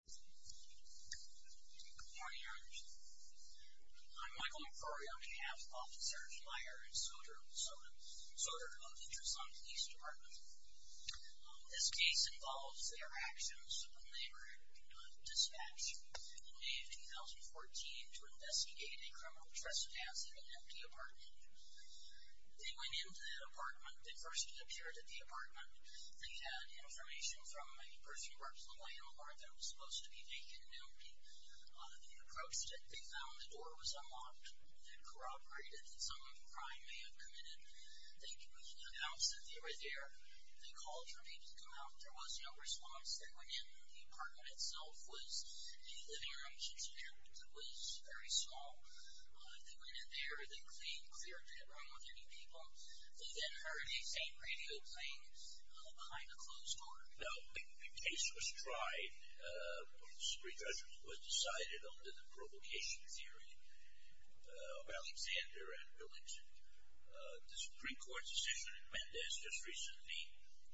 Good morning. I'm Michael McCrory. I'm a half-officer, flyer, and sorter of the Tucson Police Department. This case involves their actions when they were dispatched in May of 2014 to investigate a criminal trespass in an empty apartment. They went into the apartment. They first appeared at the apartment. They had information from a person who works in the landlord that it was supposed to be vacant and empty. They approached it. They found the door was unlocked. It had corroborated that some crime may have committed. They announced that they were there. They called for people to come out. There was no response. They went in. The apartment itself was in the living room. It was very small. They went in there. They cleaned, cleared, did it wrong with any people. They then heard a same radio playing behind a closed door. Now, the case was tried. The Supreme Court's decision was decided under the provocation theory of Alexander and Willington. The Supreme Court's decision in Mendez just recently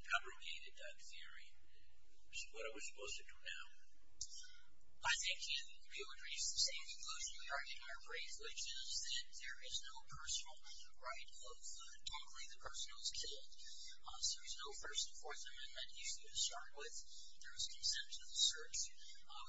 fabricated that theory. This is what I was supposed to do now. I think you would reach the same conclusion we argued in our brief, which is that there is no personal right of the person who was killed. There is no first and fourth amendment that you should start with. There is consent to the search. We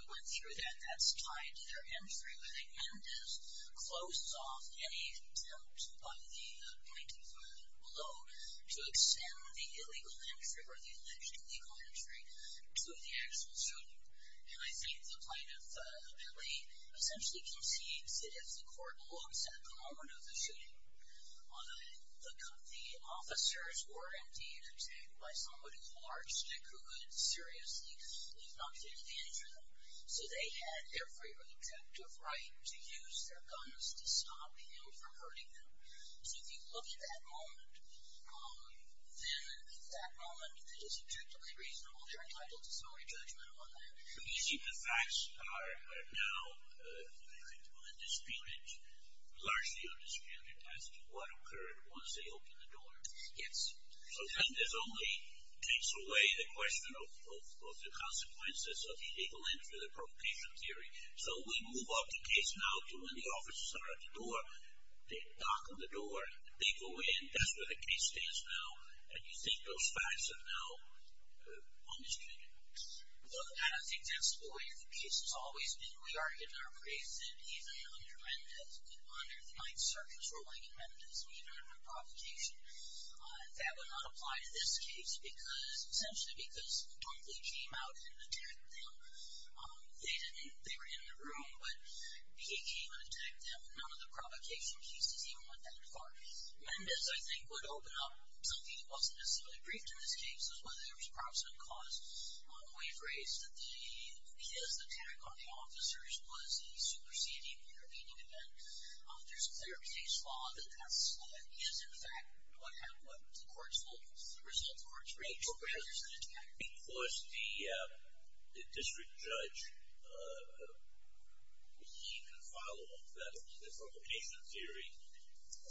went through that. That's tied to their entry. I think Mendez closed off any attempt by the plaintiff below to extend the illegal entry or the alleged illegal entry to the actual shooter. And I think the plaintiff really essentially concedes that if the court looks at the moment of the shooting, the officers were indeed attacked by someone who marched and who would seriously not take advantage of them. So they had every objective right to use their guns to stop him from hurting them. So if you look at that moment, then that moment is objectively reasonable. You're entitled to summary judgment on that. You see, the facts are now indisputed, largely undisputed, as to what occurred once they opened the door. Yes. So then this only takes away the question of the consequences of the illegal entry, the provocation theory. So we move up the case now to when the officers are at the door. They knock on the door. They go in. That's where the case stands now. And you think those facts are now on the street. Well, I don't think that's the way the case has always been. We argue in our briefs that even under Mendez, under the Ninth Circuit's ruling in Mendez, we heard the provocation. That would not apply to this case because, essentially because the police came out and attacked them. They didn't. They were in the room. But he came and attacked them. None of the provocation cases even went that far. Mendez, I think, would open up something that wasn't necessarily briefed in this case, is whether there was proximate cause. We've raised that his attack on the officers was a superseding or intervening event. There's a clear case law that that's what is, in fact, what the courts will result towards, because the district judge, he can follow the provocation theory.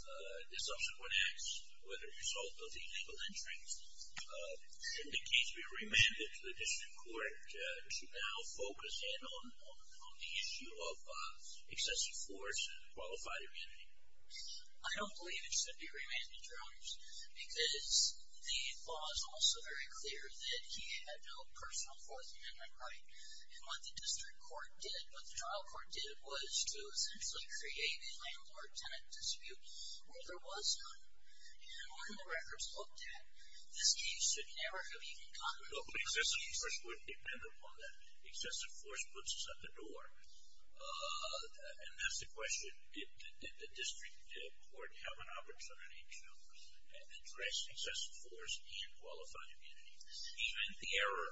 The subsequent acts, whether a result of the illegal entrance, should the case be remanded to the district court to now focus in on the issue of excessive force and qualified immunity? I don't believe it should be remanded, Your Honors, because the law is also very clear that he had no personal force amendment right. And what the district court did, what the trial court did, was to essentially create a landlord-tenant dispute where there was none. And when the records looked at, this case should never have even gotten to the district court. Excessive force would depend upon that. Excessive force puts us at the door. And that's the question. Did the district court have an opportunity to address excessive force and qualified immunity? And the error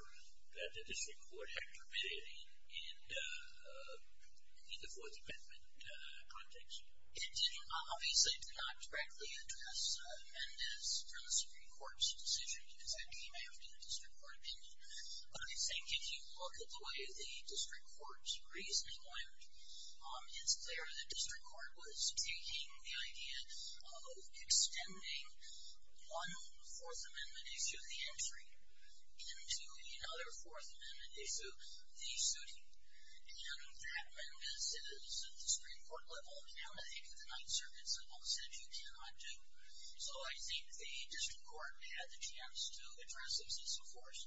that the district court had committed in the Fourth Amendment context? It didn't. Obviously, it did not directly address Mendez from the Supreme Court's decision, because that came after the district court opinion. But I think if you look at the way the district court's reasoning went, it's clear the district court was taking the idea of extending one Fourth Amendment issue, the entry, into another Fourth Amendment issue, the suiting. And that Mendez is at the Supreme Court level. And I think the Ninth Circuit simple said you cannot do. So I think the district court had the chance to address excessive force.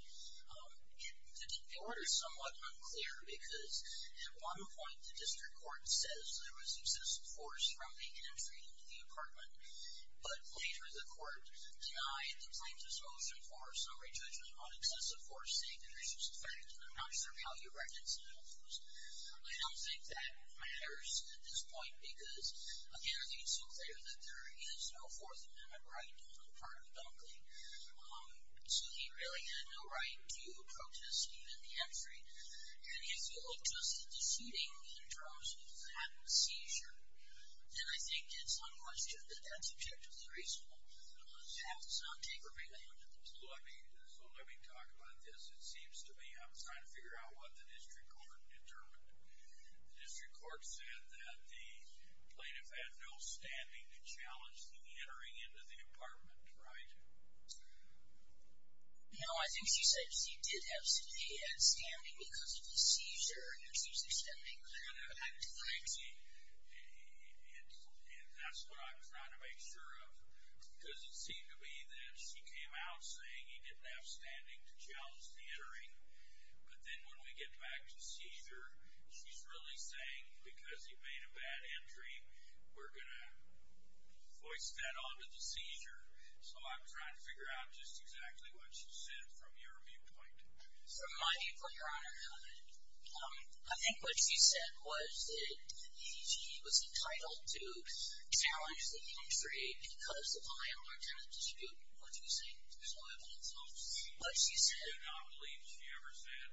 The order is somewhat unclear, because at one point, the district court says there was excessive force from the entry into the apartment. But later, the court denied the plaintiff's motion for summary judgment on excessive force, saying that it's just a fact, and I'm not sure how you write incidental force. I don't think that matters at this point. Because, again, I think it's so clear that there is no Fourth Amendment right on the part of Dunkley. So he really had no right to protest even the entry. And if you look just at the suiting in terms of that seizure, then I think it's unquestioned that that's objectively reasonable. Perhaps it's not take or be taken. So let me talk about this. It seems to me I'm trying to figure out what the district court determined. The district court said that the plaintiff had no standing to challenge the entering into the apartment, right? No, I think she said she did have standing because of the seizure, and it seems to me she didn't make clear that. I'm trying to see if that's what I'm trying to make sure of. Because it seemed to me that she came out saying you didn't have standing to challenge the entering. But then when we get back to the seizure, she's really saying because he made a bad entry, we're going to voice that on to the seizure. So I'm trying to figure out just exactly what she said from your viewpoint. From my viewpoint, Your Honor, I think what she said was that he was entitled to challenge the entry because of my own attempt to dispute what you're saying. There's no evidence of what she said. I do not believe she ever said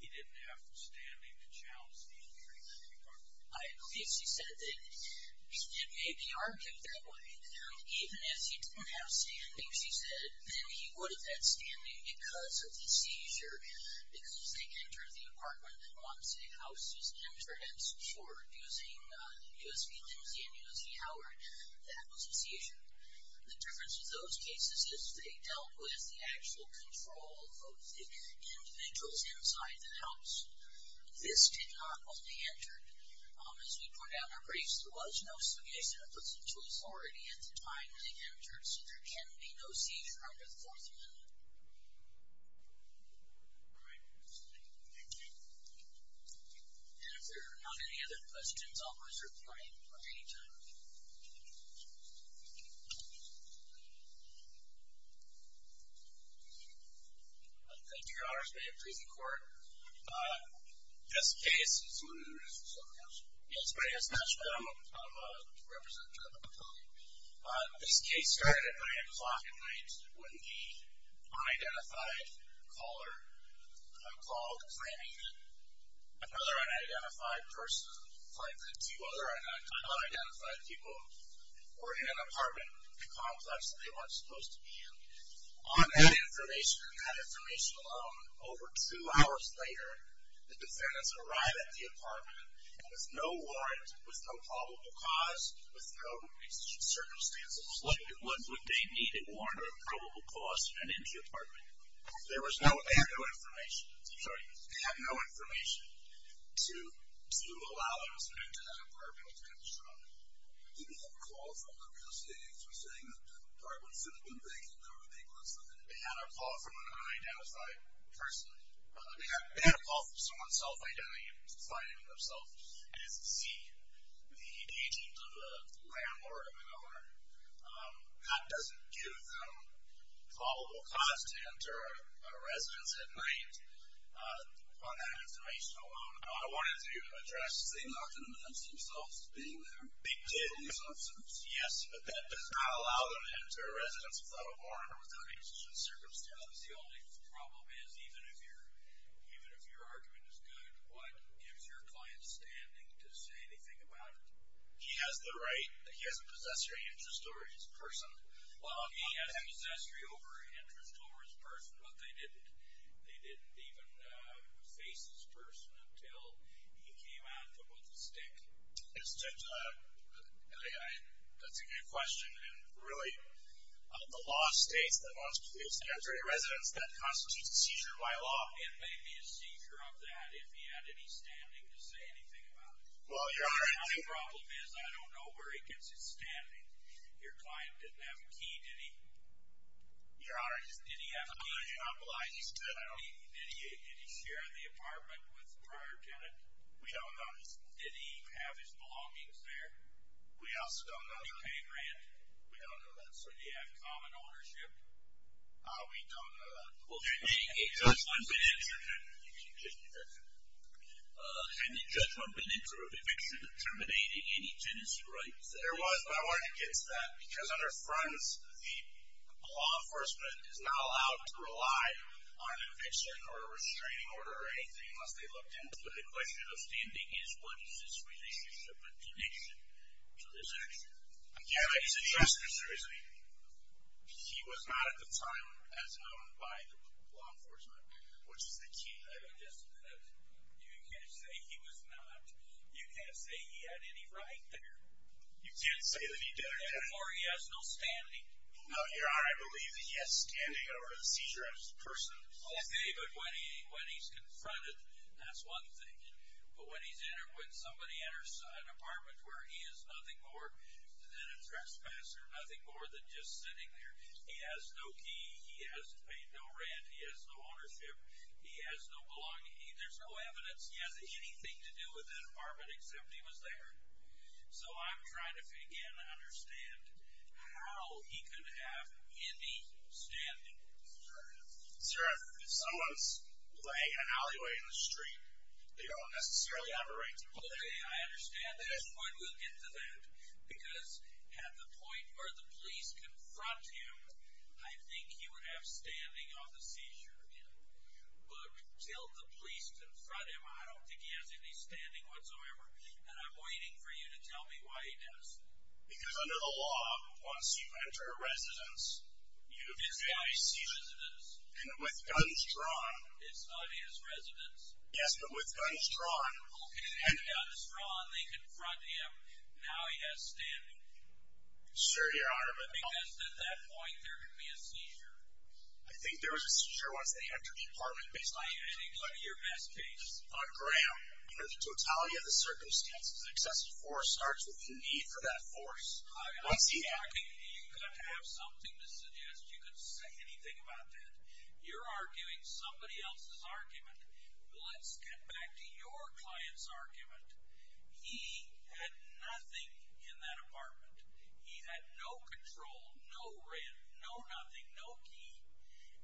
he didn't have standing to challenge the entry into the apartment. I believe she said that. It may be argued that way. Even if he didn't have standing, she said, then he would have had standing because of the seizure. Because they entered the apartment once, the house was entrance for using USB Lindsay and USB Howard. That was a seizure. The difference with those cases is they dealt with the actual control of the individuals inside the house. This did not only enter. As we pointed out in our briefs, there was no seizure. It puts them to authority at the time they entered. So there can be no seizure under the Fourth Amendment. And if there are not any other questions, I'll reserve the right for any time. Thank you. Thank you, Your Honors. May it please the Court. This case is one of the reasons somebody asked. Yes, somebody asked that. I'm a representative of the public. This case started at 9 o'clock at night when the unidentified caller called, claiming that another unidentified person, claiming that two other unidentified people were in an apartment complex that they weren't supposed to be in. On that information alone, over two hours later, the defendants arrived at the apartment with no warrant, with no probable cause, with no circumstances. What would they need? A warrant or a probable cause to enter the apartment? They had no information. I'm sorry. They had no information to allow them to enter that apartment. Did they have a call from the real estate agents who were saying that the apartment should have been vacant? Or were they close to it? They had a call from an unidentified person. They had a call from someone self-identifying themselves as C, the agent of the landlord or the owner. That doesn't give them probable cause to enter a residence at night. On that information alone, I wanted to address the unidentified themselves being there. They did. Yes, but that does not allow them to enter a residence without a warrant or without any circumstances. The only problem is, even if your argument is good, what gives your client standing to say anything about it? He has the right. He has a possessory interest over his person. Well, he has a possessory interest over his person, but they didn't even face his person until he came out with a stick. That's a good question. Really, the law states that once police enter a residence, that constitutes a seizure by law. It may be a seizure of that if he had any standing to say anything about it. Well, your argument. The only problem is, I don't know where he gets his standing. Your client didn't have a key, did he? Your argument. Did he have keys? No, he's dead. Did he share the apartment with the prior tenant? We don't know. Did he have his belongings there? We also don't know. Did he pay rent? We don't know that, sir. Did he have common ownership? We don't know that. Well, can you make a judgment? Can you make a judgment? You can just say that. Had the judgment been in favor of eviction, terminating any tenancy rights? There was, but I wanted to get to that. Because on our fronts, the law enforcement is not allowed to rely on eviction or a restraining order or anything unless they looked into it. The question of standing is, what is his relationship and connection to this action? I can't make a judgment. He's a justice, seriously. He was not at the time as owned by the law enforcement, which is the key. You can't say he was not. You can't say he had any right there. You can't say that he did or didn't. Therefore, he has no standing. No, Your Honor, I believe that he has standing over the seizure of a person. Okay, but when he's confronted, that's one thing. But when somebody enters an apartment where he is nothing more than a trespasser, nothing more than just sitting there, he has no key. He has paid no rent. He has no ownership. He has no belonging. There's no evidence. He has anything to do with that apartment except he was there. So I'm trying to begin to understand how he could have any standing. Sir, if someone's playing an alleyway in the street, they don't necessarily have a right to go there. Okay, I understand that. At this point, we'll get to that. Because at the point where the police confront him, I think he would have standing on the seizure of him. But until the police confront him, I don't think he has any standing whatsoever. And I'm waiting for you to tell me why he does. Because under the law, once you enter a residence, you do a seizure. It's not his residence. And with guns drawn. It's not his residence. Yes, but with guns drawn. Okay, with guns drawn, they confront him. Now he has standing. Sir, Your Honor, but- Because at that point, there could be a seizure. I think there was a seizure once they entered the apartment based on- In what is your best case? On Graham. Under the totality of the circumstances, excessive force starts with the need for that force. Once he- You've got to have something to suggest you can say anything about that. You're arguing somebody else's argument. Let's get back to your client's argument. He had nothing in that apartment. He had no control. No rent. No nothing. No key.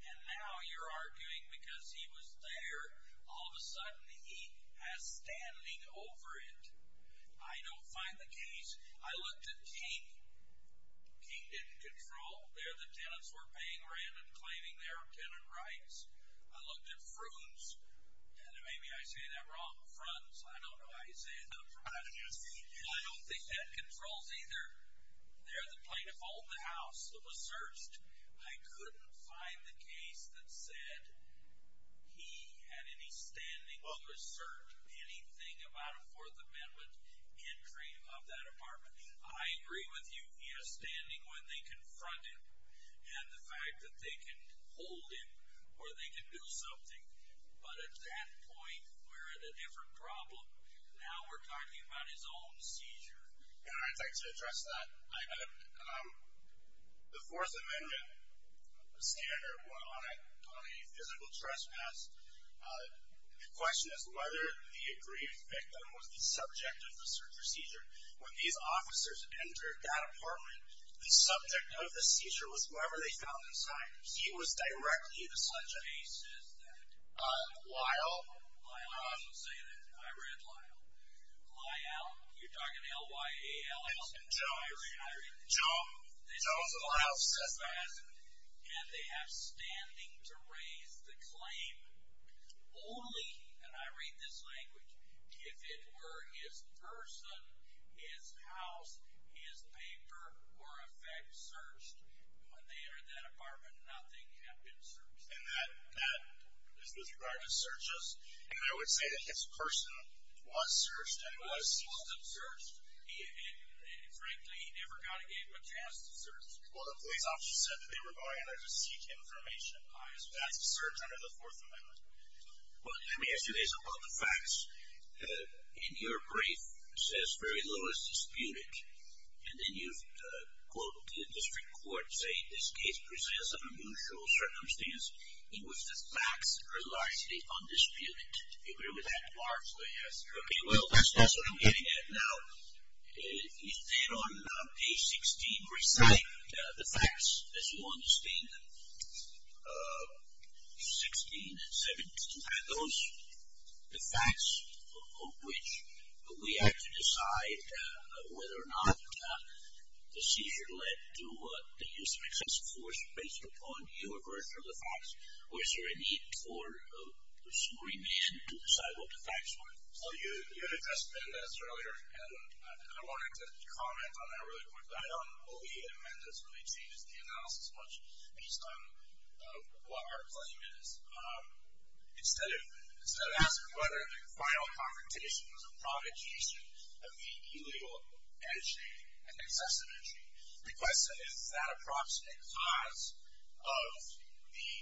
And now you're arguing because he was there, all of a sudden he has standing over it. I don't find the case. I looked at King. King didn't control. There the tenants were paying rent and claiming their tenant rights. I looked at Fruins. And maybe I say that wrong. Fruins. I don't know how you say it. I don't think they had controls either. There the plaintiff owned the house. It was searched. I couldn't find the case that said he had any standing or served anything about a Fourth Amendment entry of that apartment. I agree with you. He has standing when they confront him. And the fact that they can hold him or they can do something. But at that point, we're at a different problem. Now we're talking about his own seizure. And I'd like to address that. The Fourth Amendment standard on a physical trespass, the question is whether the aggrieved victim was the subject of the seizure. When these officers entered that apartment, the subject of the seizure was whoever they found inside. He was directly the subject. What case is that? Lyle. Lyle. I read Lyle. Lyle. You're talking L-Y-A-L. Jones. Jones. Jones of Lyle's testimony. And they have standing to raise the claim only, and I read this language, if it were his person, his house, his paper, or a fact searched, when they entered that apartment, nothing had been searched. And that is with regard to searches. And I would say that his person was searched and was seized. He wasn't searched. And frankly, he never got a chance to search. Well, the police officer said that they were going in there to seek information. That's a search under the Fourth Amendment. Well, let me ask you this about the facts. In your brief, it says, very little is disputed. And then you've quoted the district court, saying this case presents an unusual circumstance in which the facts are largely undisputed. Do you agree with that? Largely, yes. Okay, well, that's what I'm getting at. Now, you said on page 16, recite the facts as you understand them. 16 and 17. Are those the facts of which we have to decide whether or not the seizure led to the use of excessive force based upon you or versus the facts? Or is there a need for a supreme man to decide what the facts were? Well, you had addressed this earlier, and I wanted to comment on that really quickly. I don't believe the amendment has really changed the analysis much based on what our claim is. Instead of asking whether the final confrontation was a provocation of the illegal entry and excessive entry, the question is, is that a proximate cause of the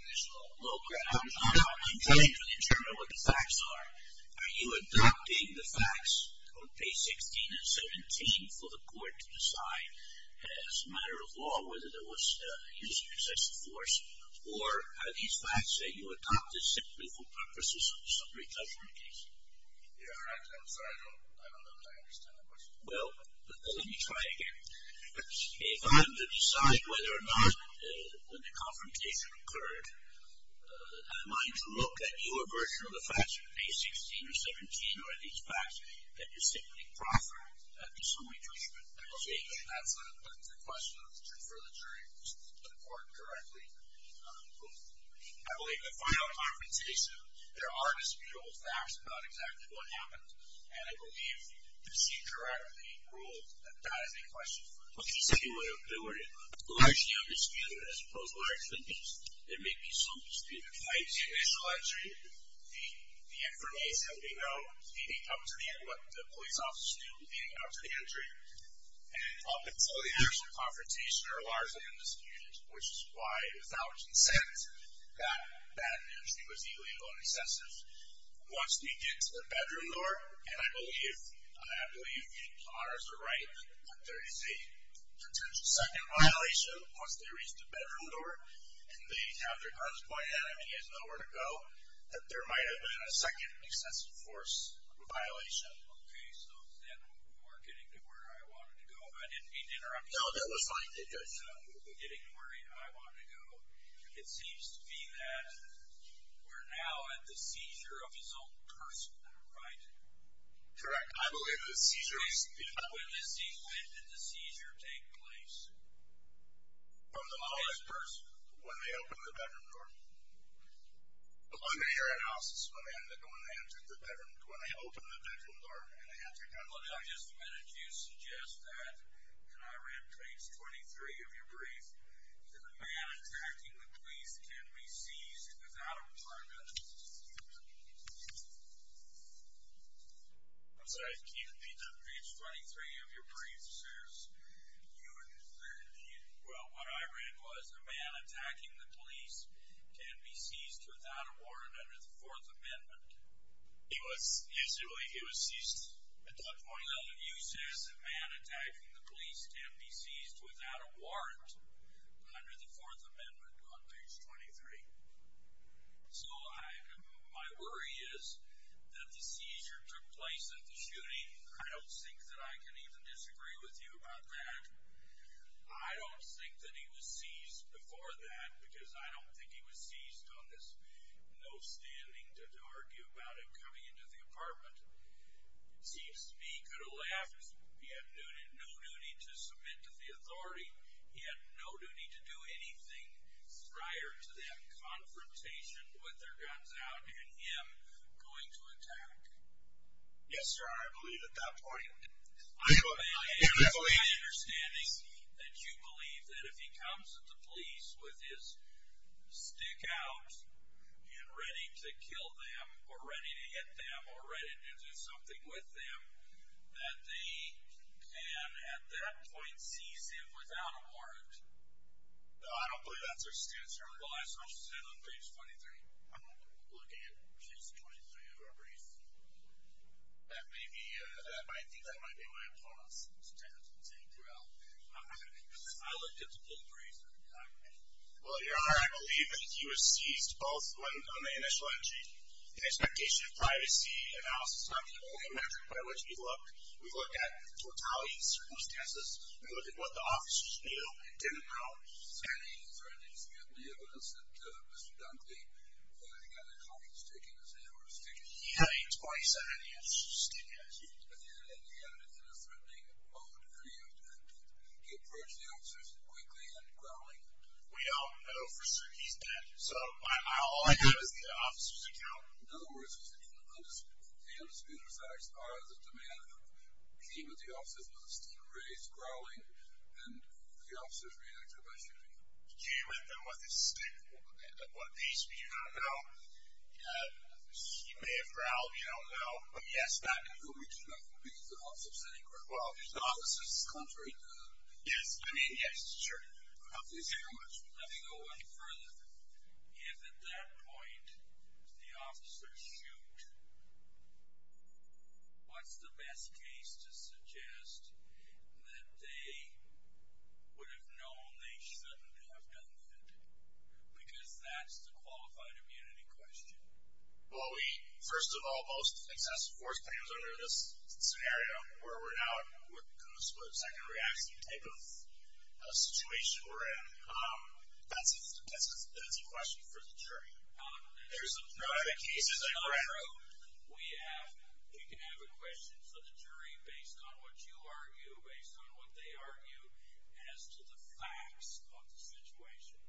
initial low ground? I'm not complaining in terms of what the facts are. Are you adopting the facts on page 16 and 17 for the court to decide as a matter of law whether there was use of excessive force, or are these facts that you adopted simply for purposes of a summary judgment case? I'm sorry, I don't understand the question. Well, let me try again. If I'm to decide whether or not when the confrontation occurred, am I to look at your version of the facts on page 16 or 17, or are these facts that you're simply proffering as a summary judgment case? That's a question for the jury to report directly. I believe the final confrontation, there are disputable facts about exactly what happened, and I believe the procedure out of the rule, that is a question for the jury. Largely undisputed as opposed to largely undisputed. There may be some disputed facts. The initial entry, the information we know, leading up to what the police officers knew leading up to the entry, and some of the actual confrontations are largely undisputed, which is why, with our consent, that entry was illegal and excessive. Once we get to the bedroom door, and I believe the honors are right, that there is a potential second violation. Once they reach the bedroom door, and they have their guns pointed at him and he has nowhere to go, that there might have been a second excessive force violation. Okay, so then we're getting to where I wanted to go. I didn't mean to interrupt you. No, that was fine. We're getting to where I wanted to go. It seems to be that we're now at the seizure of his own person, right? Correct. When did the seizure take place? On his person. When they opened the bedroom door. Under your analysis, when they opened the bedroom door and they had their guns pointed at him. Well, now, just a minute. Do you suggest that, and I read page 23 of your brief, that a man attacking the police can be seized without a warrant? I'm sorry. Can you read page 23 of your brief? Well, what I read was, a man attacking the police can be seized without a warrant under the Fourth Amendment. He was seized at that point. No, you said a man attacking the police can be seized without a warrant under the Fourth Amendment on page 23. So, my worry is that the seizure took place at the shooting. I don't think that I can even disagree with you about that. I don't think that he was seized before that because I don't think he was seized on this. No standing to argue about him coming into the apartment. Seems to me he could have left. He had no duty to submit to the authority. He had no duty to do anything prior to that confrontation with their guns out and him going to attack. Yes, sir. I believe at that point. I believe. It's my understanding that you believe that if he comes at the police with his stick out and ready to kill them or ready to hit them or ready to do something with them, that they can, at that point, seize him without a warrant. No, I don't believe that's our stance here. Well, I saw what you said on page 23. I'm not looking at page 23 of our brief. That may be. But I think that might be why I'm calling us to take you out. I looked at the whole brief. Well, Your Honor, I believe that he was seized both on the initial entry and expectation of privacy analysis. That's not the only metric by which we looked. We looked at totality of circumstances. We looked at what the officers knew and didn't know. So you're saying that you have the evidence that Mr. Dunkley, the guy that caught him sticking his hand over his ticket. He had a 27-inch stick. Yes. And you have it in a threatening mode for you to approach the officers quickly and growling. We all know for certain he's dead. So all I have is the officer's account. In other words, the undisputed facts are that the man who came at the officers with a stick raised, growling, and the officers reacted by shooting him. Do you know what this stick, what piece? Do you not know? He may have growled. You don't know? Yes, not completely. Not completely. The officer said he grewl. Well, the officer's contrary. Yes. I mean, yes, sure. Thank you very much. Let me go one further. If at that point the officers shoot, what's the best case to suggest that they would have known they shouldn't have done that? Because that's the qualified immunity question. Well, first of all, most excessive force players are under this scenario where we're now in a split-second reaction type of situation we're in. That's a question for the jury. There's a number of cases I've read. We can have a question for the jury based on what you argue, based on what they argue as to the facts of the situation.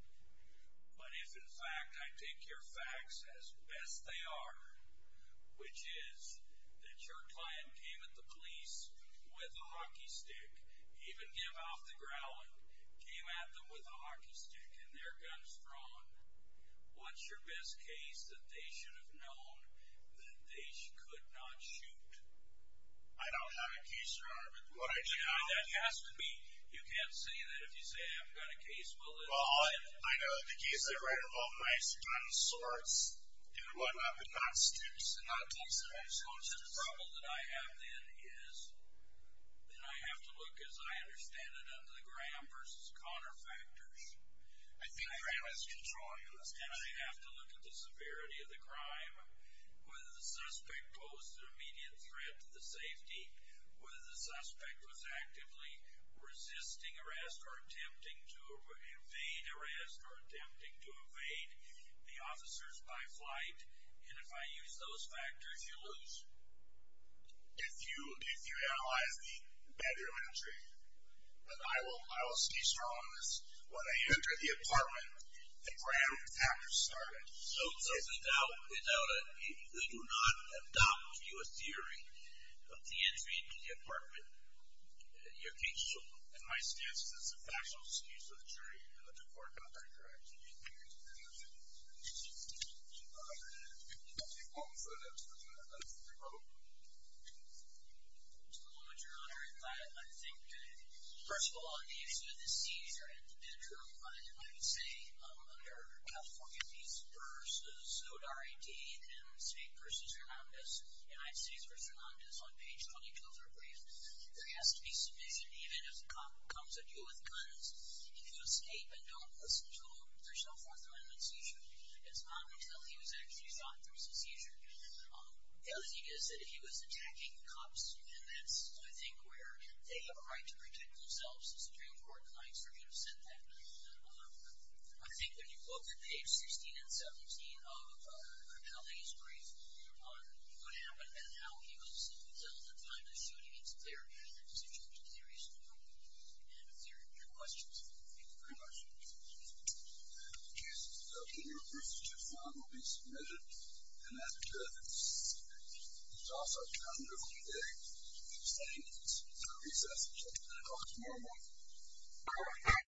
But if, in fact, I take your facts as best they are, which is that your client came at the police with a hockey stick, even came off the ground, came at them with a hockey stick, and their gun's drawn, what's your best case that they should have known that they could not shoot? I don't have a case to argue. That has to be. You can't say that if you say I haven't got a case. Well, I know the case I read involved knives, guns, swords, and whatnot, but not sticks. Not police knives, not sticks. I think Graham is controlling us. He's trying to invade arrest or attempting to invade the officers by flight. And if I use those factors, you lose. If you analyze the bedroom entry, I will say strong on this, when I entered the apartment, that Graham, after starting, So it's without a doubt, it's without a, you do not adopt to you a theory of the entry into the apartment? You're canceled. And my stance is that's a factual excuse for the jury and the court. I'm not going to correct you. Just a little bit, your Honor. I think first of all, these are the scenes are at the bedroom. And I would say, I'm under the forget these versus Zodar. I.T. And then speak versus Hernandez. And I've seen versus hernandez on page 22 of the brief. There has to be sufficient, even if a cop comes at you with guns, if you escape and don't listen to him, there's no Fourth Amendment seizure. It's not until he was actually shot, there was a seizure. The other thing is that if he was attacking cops, and that's, I think where they have a right to protect themselves, the Supreme Court might forget to send that. I think when you look at page 16 and 17 of the police brief on what happened and how he was killed at the time of the shooting,